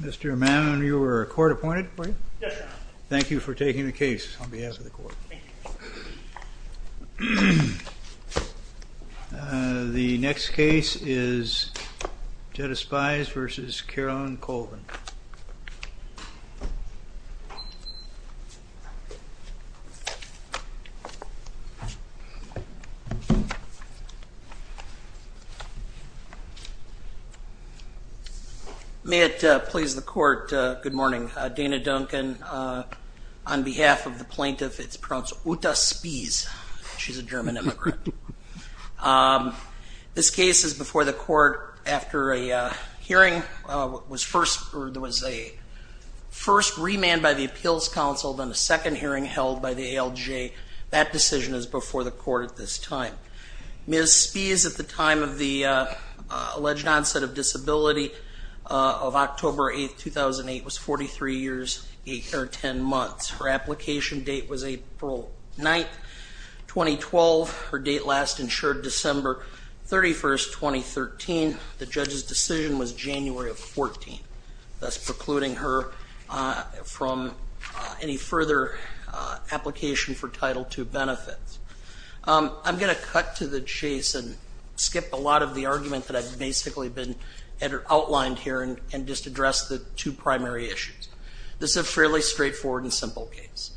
Mr. O'Mahon, you were court-appointed, were you? Yes, sir. Thank you for taking the case on behalf of the court. The next case is Jutta Spies v. Carolyn Colvin. May it please the court, good morning. Dana Duncan on behalf of the plaintiff, it's pronounced Jutta Spies. She's a German immigrant. This case is before the court after a hearing was first, there was a first remand by the Appeals Council, then a second hearing held by the ALJ. That decision is before the Court of Appeals. Her application date of October 8, 2008 was 43 years, 8 or 10 months. Her application date was April 9, 2012. Her date last insured December 31, 2013. The judge's decision was January of 14, thus precluding her from any further application for Title II benefits. I'm going to cut to the chase and skip a lot of the argument that I've basically been outlined here and just address the two primary issues. This is a fairly straightforward and simple case.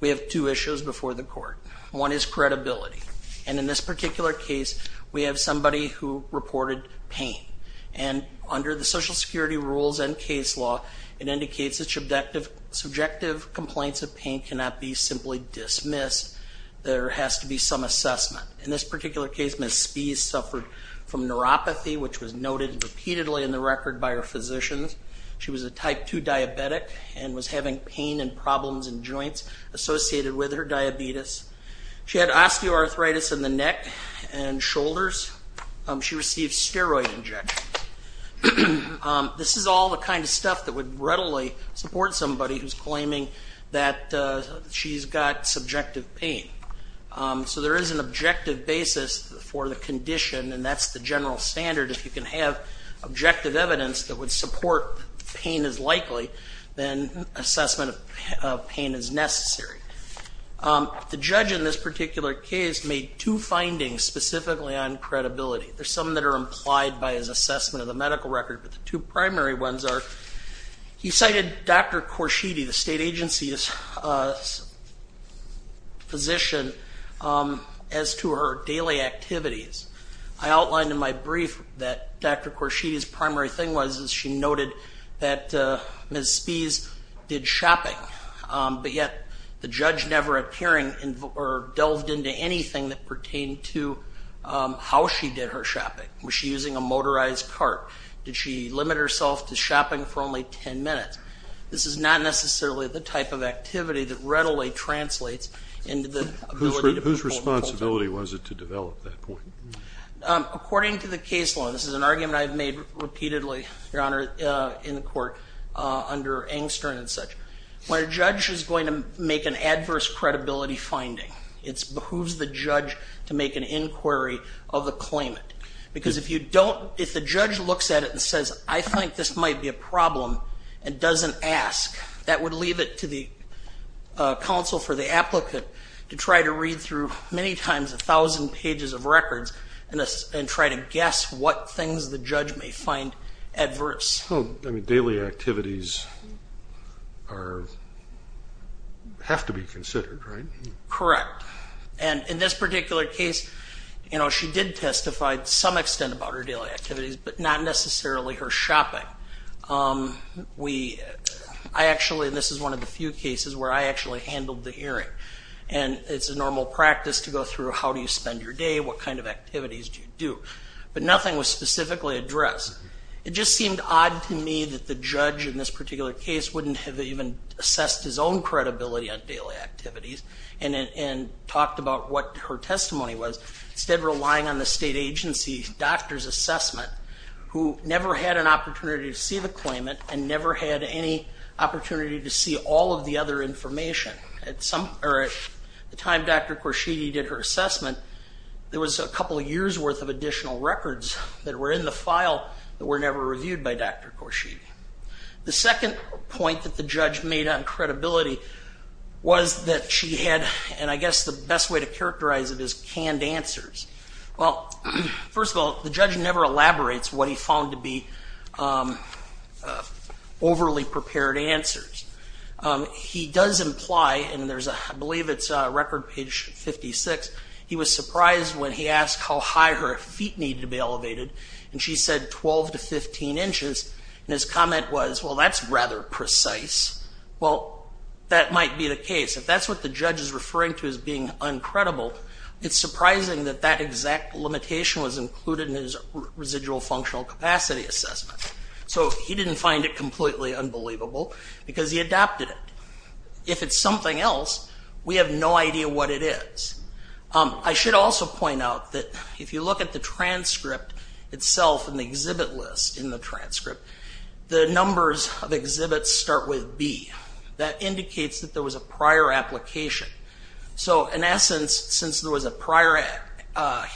We have two issues before the court. One is credibility, and in this particular case we have somebody who reported pain, and under the Social Security rules and case law, it indicates that subjective complaints of pain cannot be simply dismissed. There has to be some assessment. In this particular case, Ms. East suffered from neuropathy, which was noted repeatedly in the record by her physicians. She was a Type II diabetic and was having pain and problems in joints associated with her diabetes. She had osteoarthritis in the neck and shoulders. She received steroid injections. This is all the kind of stuff that would readily support somebody who's claiming that she's got subjective pain. So there is an objective basis for the condition, and that's the general standard. If you can have objective evidence that would support pain is likely, then assessment of pain is necessary. The judge in this particular case made two findings specifically on credibility. There's some that are implied by his assessment of the medical record, but the two primary ones are he cited Dr. Korshidi, the State As to her daily activities, I outlined in my brief that Dr. Korshidi's primary thing was, is she noted that Ms. Spies did shopping, but yet the judge never appeared or delved into anything that pertained to how she did her shopping. Was she using a motorized cart? Did she limit herself to shopping for only 10 minutes? This is not necessarily the type of activity that readily translates into the ability to perform the full time. Whose responsibility was it to develop that point? According to the case law, and this is an argument I've made repeatedly, Your Honor, in the court under Engstern and such, when a judge is going to make an adverse credibility finding, it's who's the judge to make an inquiry of the claimant. Because if you don't, if the judge looks at it and says, I think this might be a problem and doesn't ask, that would leave it to the counsel for the applicant to try to read through many times a thousand pages of records and try to guess what things the judge may find adverse. Oh, I mean, daily activities have to be considered, right? Correct. And in this particular case, she did testify to some extent about her daily activities, but not necessarily her shopping. I actually, and this is one of the few cases where I actually handled the hearing. And it's a normal practice to go through, how do you spend your day? What kind of activities do you do? But nothing was specifically addressed. It just seemed odd to me that the judge in this particular case wouldn't have even assessed his own credibility on daily activities and talked about what her testimony was, instead relying on the state agency doctor's assessment, who never had an opportunity to see the other information. At the time Dr. Korshidi did her assessment, there was a couple of years worth of additional records that were in the file that were never reviewed by Dr. Korshidi. The second point that the judge made on credibility was that she had, and I guess the best way to characterize it is canned answers. Well, first of all, the judge never elaborates what he found to be credible. He does imply, and there's a, I believe it's record page 56, he was surprised when he asked how high her feet needed to be elevated, and she said 12 to 15 inches, and his comment was, well that's rather precise. Well, that might be the case. If that's what the judge is referring to as being uncredible, it's surprising that that exact limitation was included in his residual functional capacity assessment. So he didn't find it completely unbelievable, because he adopted it. If it's something else, we have no idea what it is. I should also point out that if you look at the transcript itself and the exhibit list in the transcript, the numbers of exhibits start with B. That indicates that there was a prior application. So in essence, since there was a prior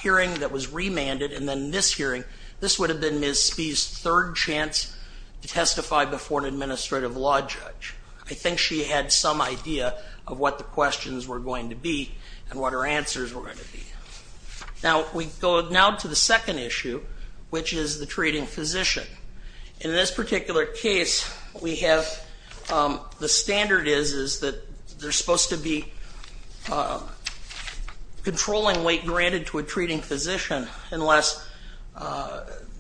hearing that was remanded, and then this hearing, this would have been Ms. Spee's third chance to testify before an administrative law judge. I think she had some idea of what the questions were going to be, and what her answers were going to be. Now, we go now to the second issue, which is the treating physician. In this particular case, we have, the standard is, is that they're supposed to be controlling weight granted to a treating physician, unless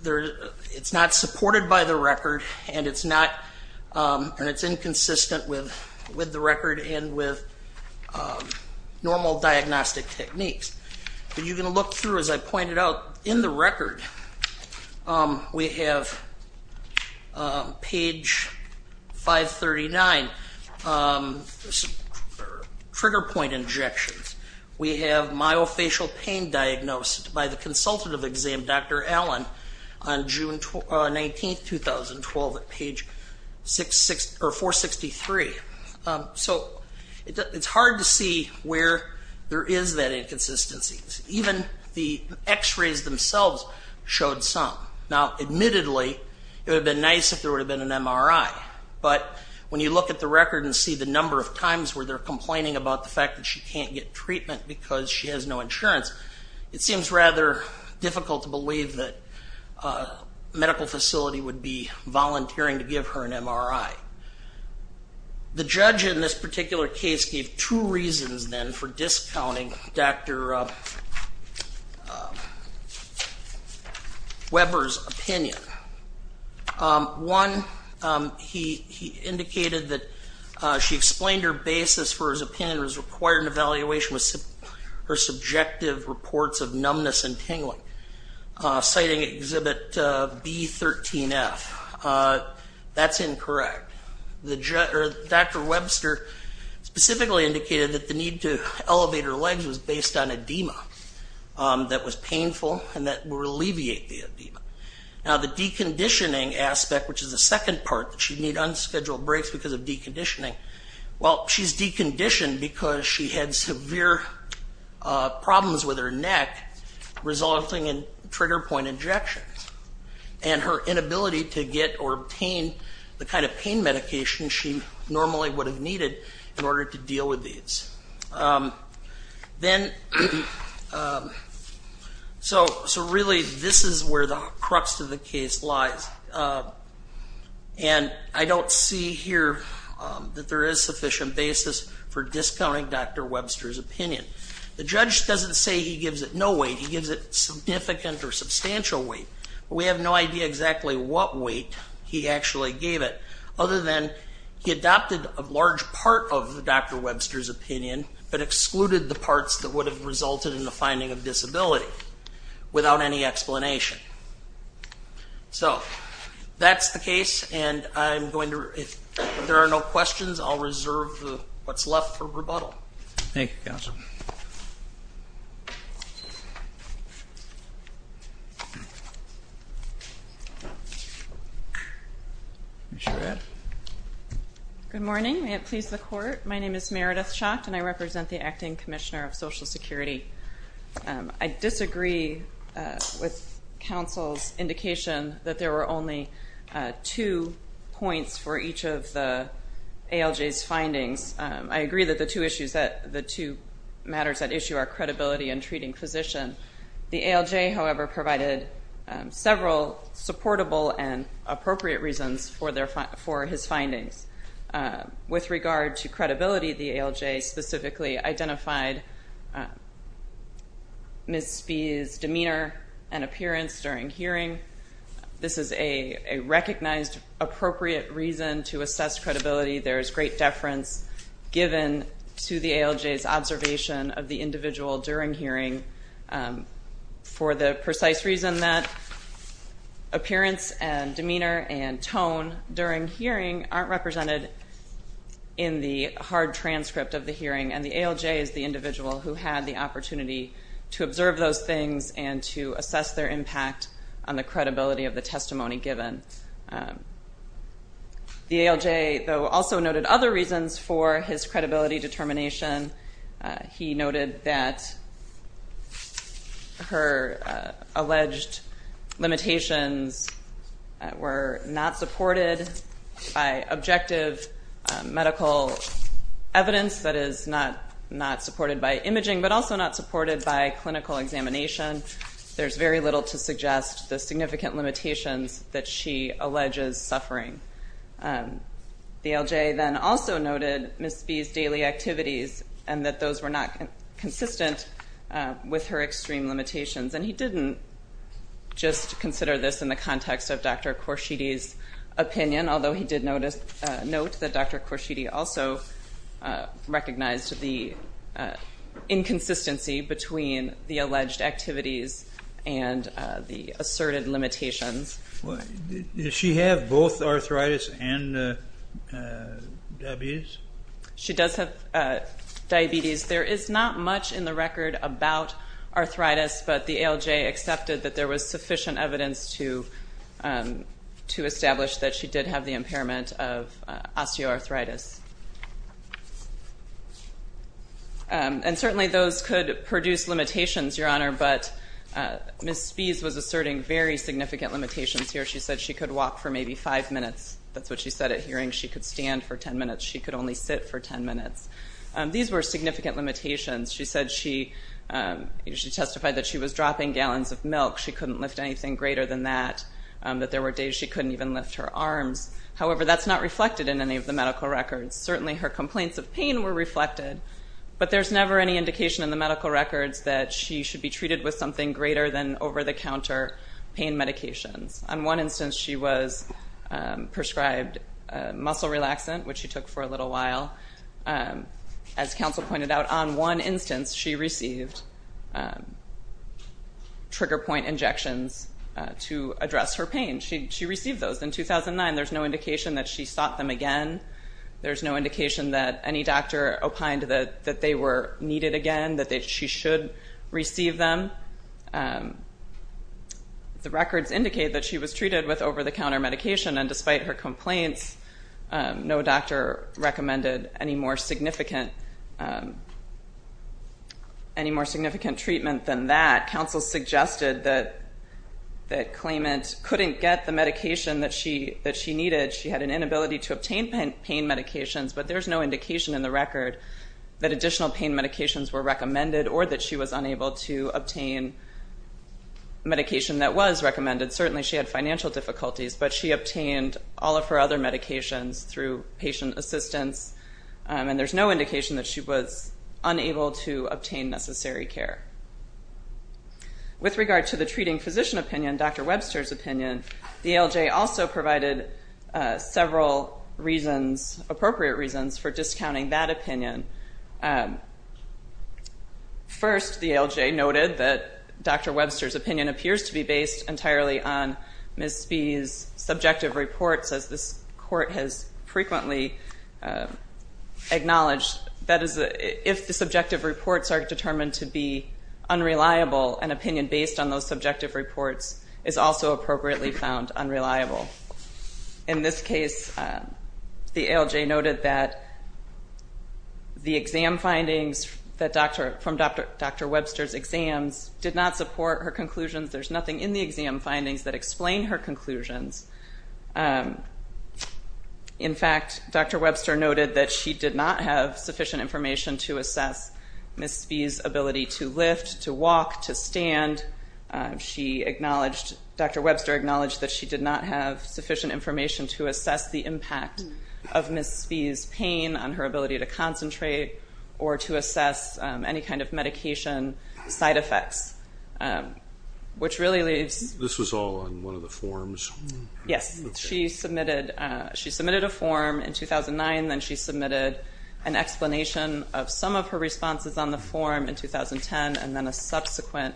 there, it's not supported by the record, and it's not, and it's inconsistent with with the record, and with normal diagnostic techniques. But you can look through, as I pointed out, in the record, we have page 539, trigger point injections. We have myofacial pain diagnosed by the consultative exam, Dr. Allen, on June 19, 2012, at page 66, or 463. So it's hard to see where there is that inconsistencies. Even the x-rays themselves showed some. Now admittedly, it would have been nice if there would have been an MRI, but when you look at the record and see the number of times where they're complaining about the fact that she can't get treatment because she has no insurance, it seems rather difficult to believe that a medical facility would be volunteering to give her an MRI. The judge in this particular case gave two reasons then for discounting Dr. Weber's opinion. One, he indicated that she explained her basis for his opinion was required an evaluation with her subjective reports of numbness and tingling, citing exhibit B13F. That's incorrect. Dr. Webster specifically indicated that the need to elevate her legs was based on edema that was painful and that will alleviate the edema. Now the deconditioning aspect, which is the second part, that she'd need unscheduled breaks because of deconditioning, well she had severe problems with her neck resulting in trigger point injections and her inability to get or obtain the kind of pain medication she normally would have needed in order to deal with these. So really this is where the crux of the case lies and I don't see here that there is sufficient basis for discounting Dr. Webster's opinion. The judge doesn't say he gives it no weight, he gives it significant or substantial weight. We have no idea exactly what weight he actually gave it other than he adopted a large part of Dr. Webster's opinion but excluded the parts that would have resulted in the finding of disability without any explanation. So that's the case and I'm going to reserve what's left for rebuttal. Thank you, counsel. Good morning, may it please the court. My name is Meredith Schacht and I represent the Acting Commissioner of Social Security. I disagree with counsel's opinion that there were only two points for each of the ALJ's findings. I agree that the two matters at issue are credibility and treating physician. The ALJ, however, provided several supportable and appropriate reasons for his findings. With regard to credibility, the ALJ specifically identified Ms. Spee's a recognized appropriate reason to assess credibility. There's great deference given to the ALJ's observation of the individual during hearing for the precise reason that appearance and demeanor and tone during hearing aren't represented in the hard transcript of the hearing and the ALJ is the individual who had the opportunity to observe those things and to assess their testimony given. The ALJ, though, also noted other reasons for his credibility determination. He noted that her alleged limitations were not supported by objective medical evidence, that is not supported by imaging, but also not supported by clinical examination. There's very little to suggest the she alleges suffering. The ALJ then also noted Ms. Spee's daily activities and that those were not consistent with her extreme limitations and he didn't just consider this in the context of Dr. Khorshidi's opinion, although he did note that Dr. Khorshidi also recognized the inconsistency between the Does she have both arthritis and diabetes? She does have diabetes. There is not much in the record about arthritis, but the ALJ accepted that there was sufficient evidence to to establish that she did have the impairment of osteoarthritis. And certainly those could produce limitations, Your Honor, but Ms. Spee's was asserting very significant limitations here. She said she could walk for maybe five minutes. That's what she said at hearing. She could stand for ten minutes. She could only sit for ten minutes. These were significant limitations. She said she, she testified that she was dropping gallons of milk. She couldn't lift anything greater than that, that there were days she couldn't even lift her arms. However, that's not reflected in any of the medical records. Certainly her complaints of pain were reflected, but there's never any indication in the medical records that she should be treated with something greater than over-the-counter pain medications. On one instance she was prescribed muscle relaxant, which she took for a little while. As counsel pointed out, on one instance she received trigger point injections to address her pain. She, she received those in 2009. There's no indication that she sought them again. There's no indication that any doctor opined that, that they were appropriate to receive them. The records indicate that she was treated with over-the-counter medication, and despite her complaints, no doctor recommended any more significant, any more significant treatment than that. Counsel suggested that, that claimant couldn't get the medication that she, that she needed. She had an inability to obtain pain medications, but there's no indication in the record that additional pain medications were recommended or that she was unable to obtain medication that was recommended. Certainly she had financial difficulties, but she obtained all of her other medications through patient assistance, and there's no indication that she was unable to obtain necessary care. With regard to the treating physician opinion, Dr. Webster's opinion, the ALJ also provided several reasons, appropriate reasons, for treatment. First, the ALJ noted that Dr. Webster's opinion appears to be based entirely on Ms. Spee's subjective reports, as this court has frequently acknowledged. That is, if the subjective reports are determined to be unreliable, an opinion based on those subjective reports is also appropriately found unreliable. In this case, the ALJ noted that the exam findings that Dr., from Dr. Webster's exams did not support her conclusions. There's nothing in the exam findings that explain her conclusions. In fact, Dr. Webster noted that she did not have sufficient information to assess Ms. Spee's ability to lift, to walk, to stand. She acknowledged, Dr. Webster acknowledged that she did not have sufficient information to assess the impact of Ms. Spee's ability to concentrate or to assess any kind of medication side effects, which really leaves... This was all on one of the forms? Yes, she submitted, she submitted a form in 2009, then she submitted an explanation of some of her responses on the form in 2010, and then a subsequent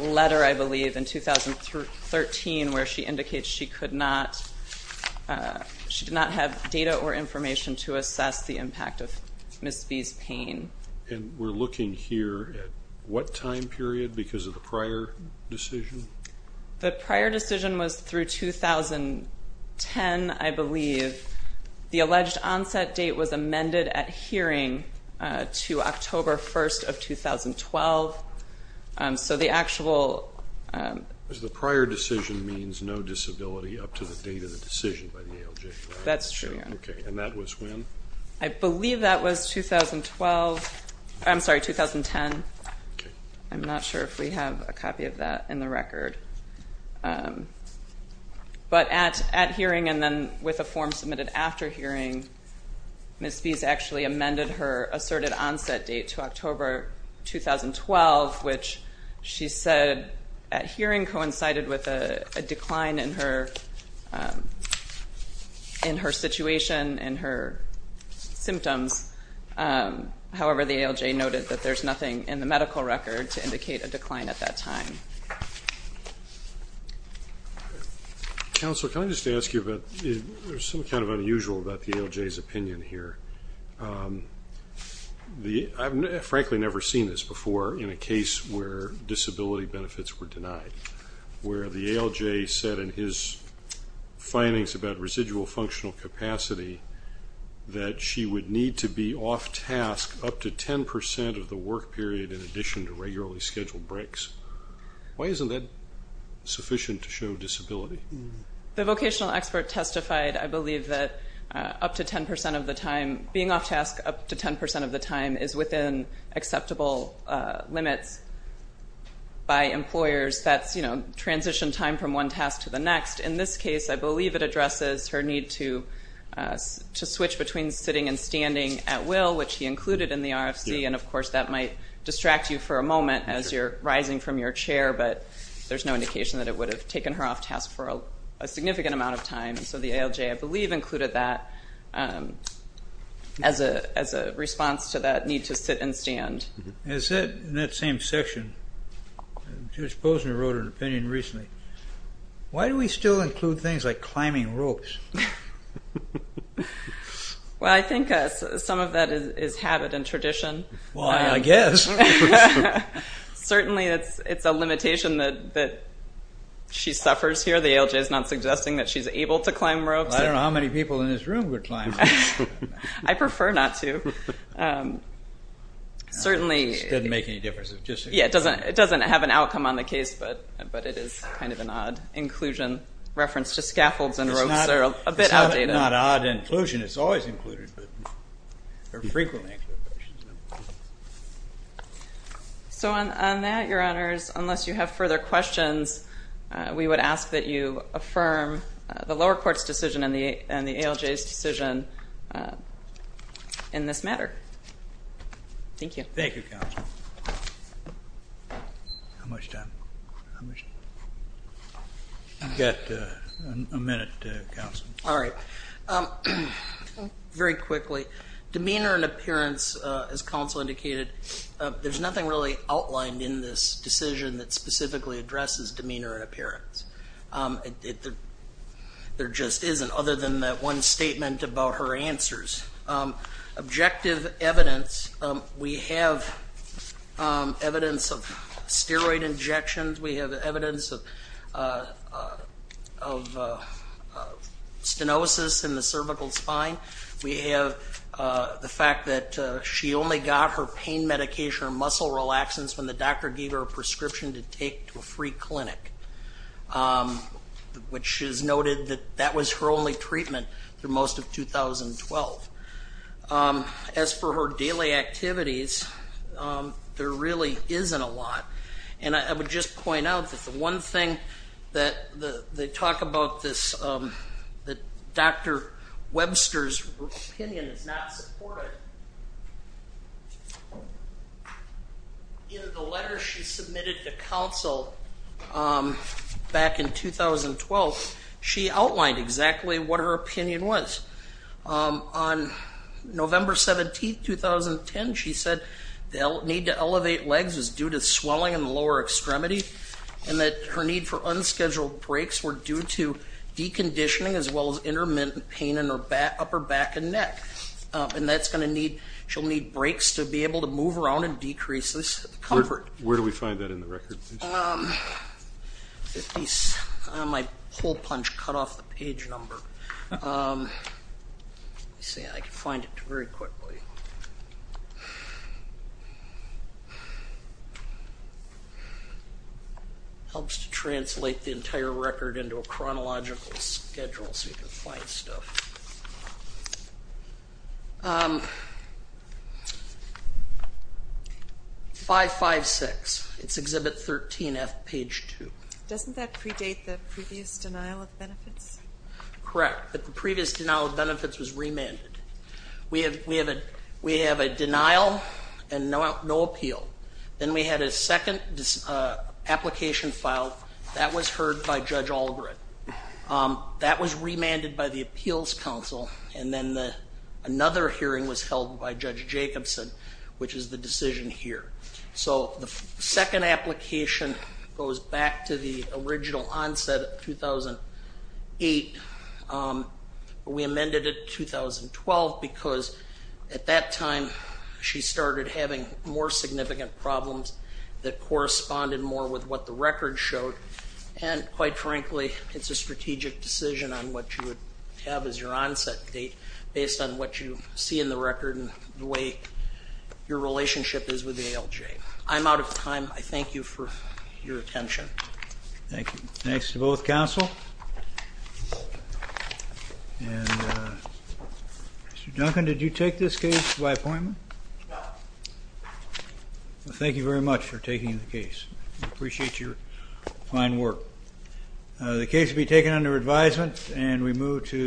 letter, I believe, in 2013, where she indicates she did not have sufficient information to assess the impact of Ms. Spee's pain. And we're looking here at what time period, because of the prior decision? The prior decision was through 2010, I believe. The alleged onset date was amended at hearing to October 1st of 2012, so the actual... The prior decision means no disability up to the date of the decision by the ALJ, right? That's true, yeah. Okay, and that was when? I believe that was 2012, I'm sorry, 2010. I'm not sure if we have a copy of that in the record. But at hearing and then with a form submitted after hearing, Ms. Spee's actually amended her asserted onset date to October 2012, which she said at hearing coincided with a decline in her situation and her symptoms. However, the ALJ noted that there's nothing in the medical record to indicate a decline at that time. Counsel, can I just ask you about, there's something kind of unusual about the ALJ's opinion here. I've frankly never seen this before in a case where disability is a vocational capacity, that she would need to be off task up to 10% of the work period in addition to regularly scheduled breaks. Why isn't that sufficient to show disability? The vocational expert testified, I believe, that up to 10% of the time, being off task up to 10% of the time is within acceptable limits by employers. That's, you know, transition time from one task to the next. In this case, I believe it addresses her need to switch between sitting and standing at will, which he included in the RFC, and of course that might distract you for a moment as you're rising from your chair, but there's no indication that it would have taken her off task for a significant amount of time. So the ALJ, I believe, included that as a response to that need to sit and stand. It said in that same section, Judge Posner wrote an opinion recently, why do we still include things like climbing ropes? Well, I think some of that is habit and tradition. Well, I guess. Certainly, it's a limitation that she suffers here. The ALJ is not suggesting that she's able to climb ropes. I don't know how many people in this room would climb. I prefer not to. Certainly. It doesn't make any difference. Yeah, it doesn't have an outcome on the case, but it is kind of an odd inclusion reference to scaffolds and ropes that are a bit outdated. It's not odd inclusion. It's always included, but they're frequently included. So on that, Your Honors, unless you have further questions, we would ask that you affirm the lower court's decision and the ALJ's decision in this matter. Thank you. Thank you, Counsel. All right. Very quickly. Demeanor and appearance, as Counsel indicated, there's nothing really outlined in this decision that specifically addresses demeanor and appearance. There just isn't, other than that one statement about her answers. Objective evidence, we have evidence of steroid injections. We have evidence of stenosis in the cervical spine. We have the fact that she only got her pain medication or muscle relaxants when the doctor gave her a prescription to take to a free clinic, which is noted that that was her only treatment through most of 2012. As for her daily activities, there really isn't a lot. And I would just point out that the one thing that they talk about this, that Dr. Webster's opinion is not supported. In the letter she submitted to Counsel back in 2012, she outlined exactly what her opinion was. On November 17th, 2010, she said the need to elevate legs is due to swelling in the lower extremity, and that her need for unscheduled breaks were due to deconditioning as well as intermittent pain in her upper back and neck. And that's going to need, she'll need breaks to be able to move around and decrease this comfort. Where do we find that in the records? My hole punch cut off the page number. Let's see, I can find it very quickly. Helps to translate the entire record into a chronological schedule so you can find stuff. 556, it's Exhibit 13F, page 2. Doesn't that predate the previous denial of benefits? Correct, but the previous denial of benefits was remanded. We have a denial and no appeal. Then we had a second application filed. That was heard by Judge Allgren. That was remanded by the Appeals Council. And then another hearing was held by Judge Jacobson, which is the decision here. So the second application goes back to the original onset of 2008. We amended it 2012 because at that time she started having more significant problems that corresponded more with what the record showed. And quite frankly, it's a strategic decision on what you would have as your onset date based on what you see in the record and the way your relationship is with ALJ. I'm out of time. I thank you for your attention. Thank you. Thanks to both counsel. Mr. Duncan, did you take this case by appointment? No. Thank you very much for taking the case. We appreciate your fine work. The case will be taken under advisement, and we move to the hearing.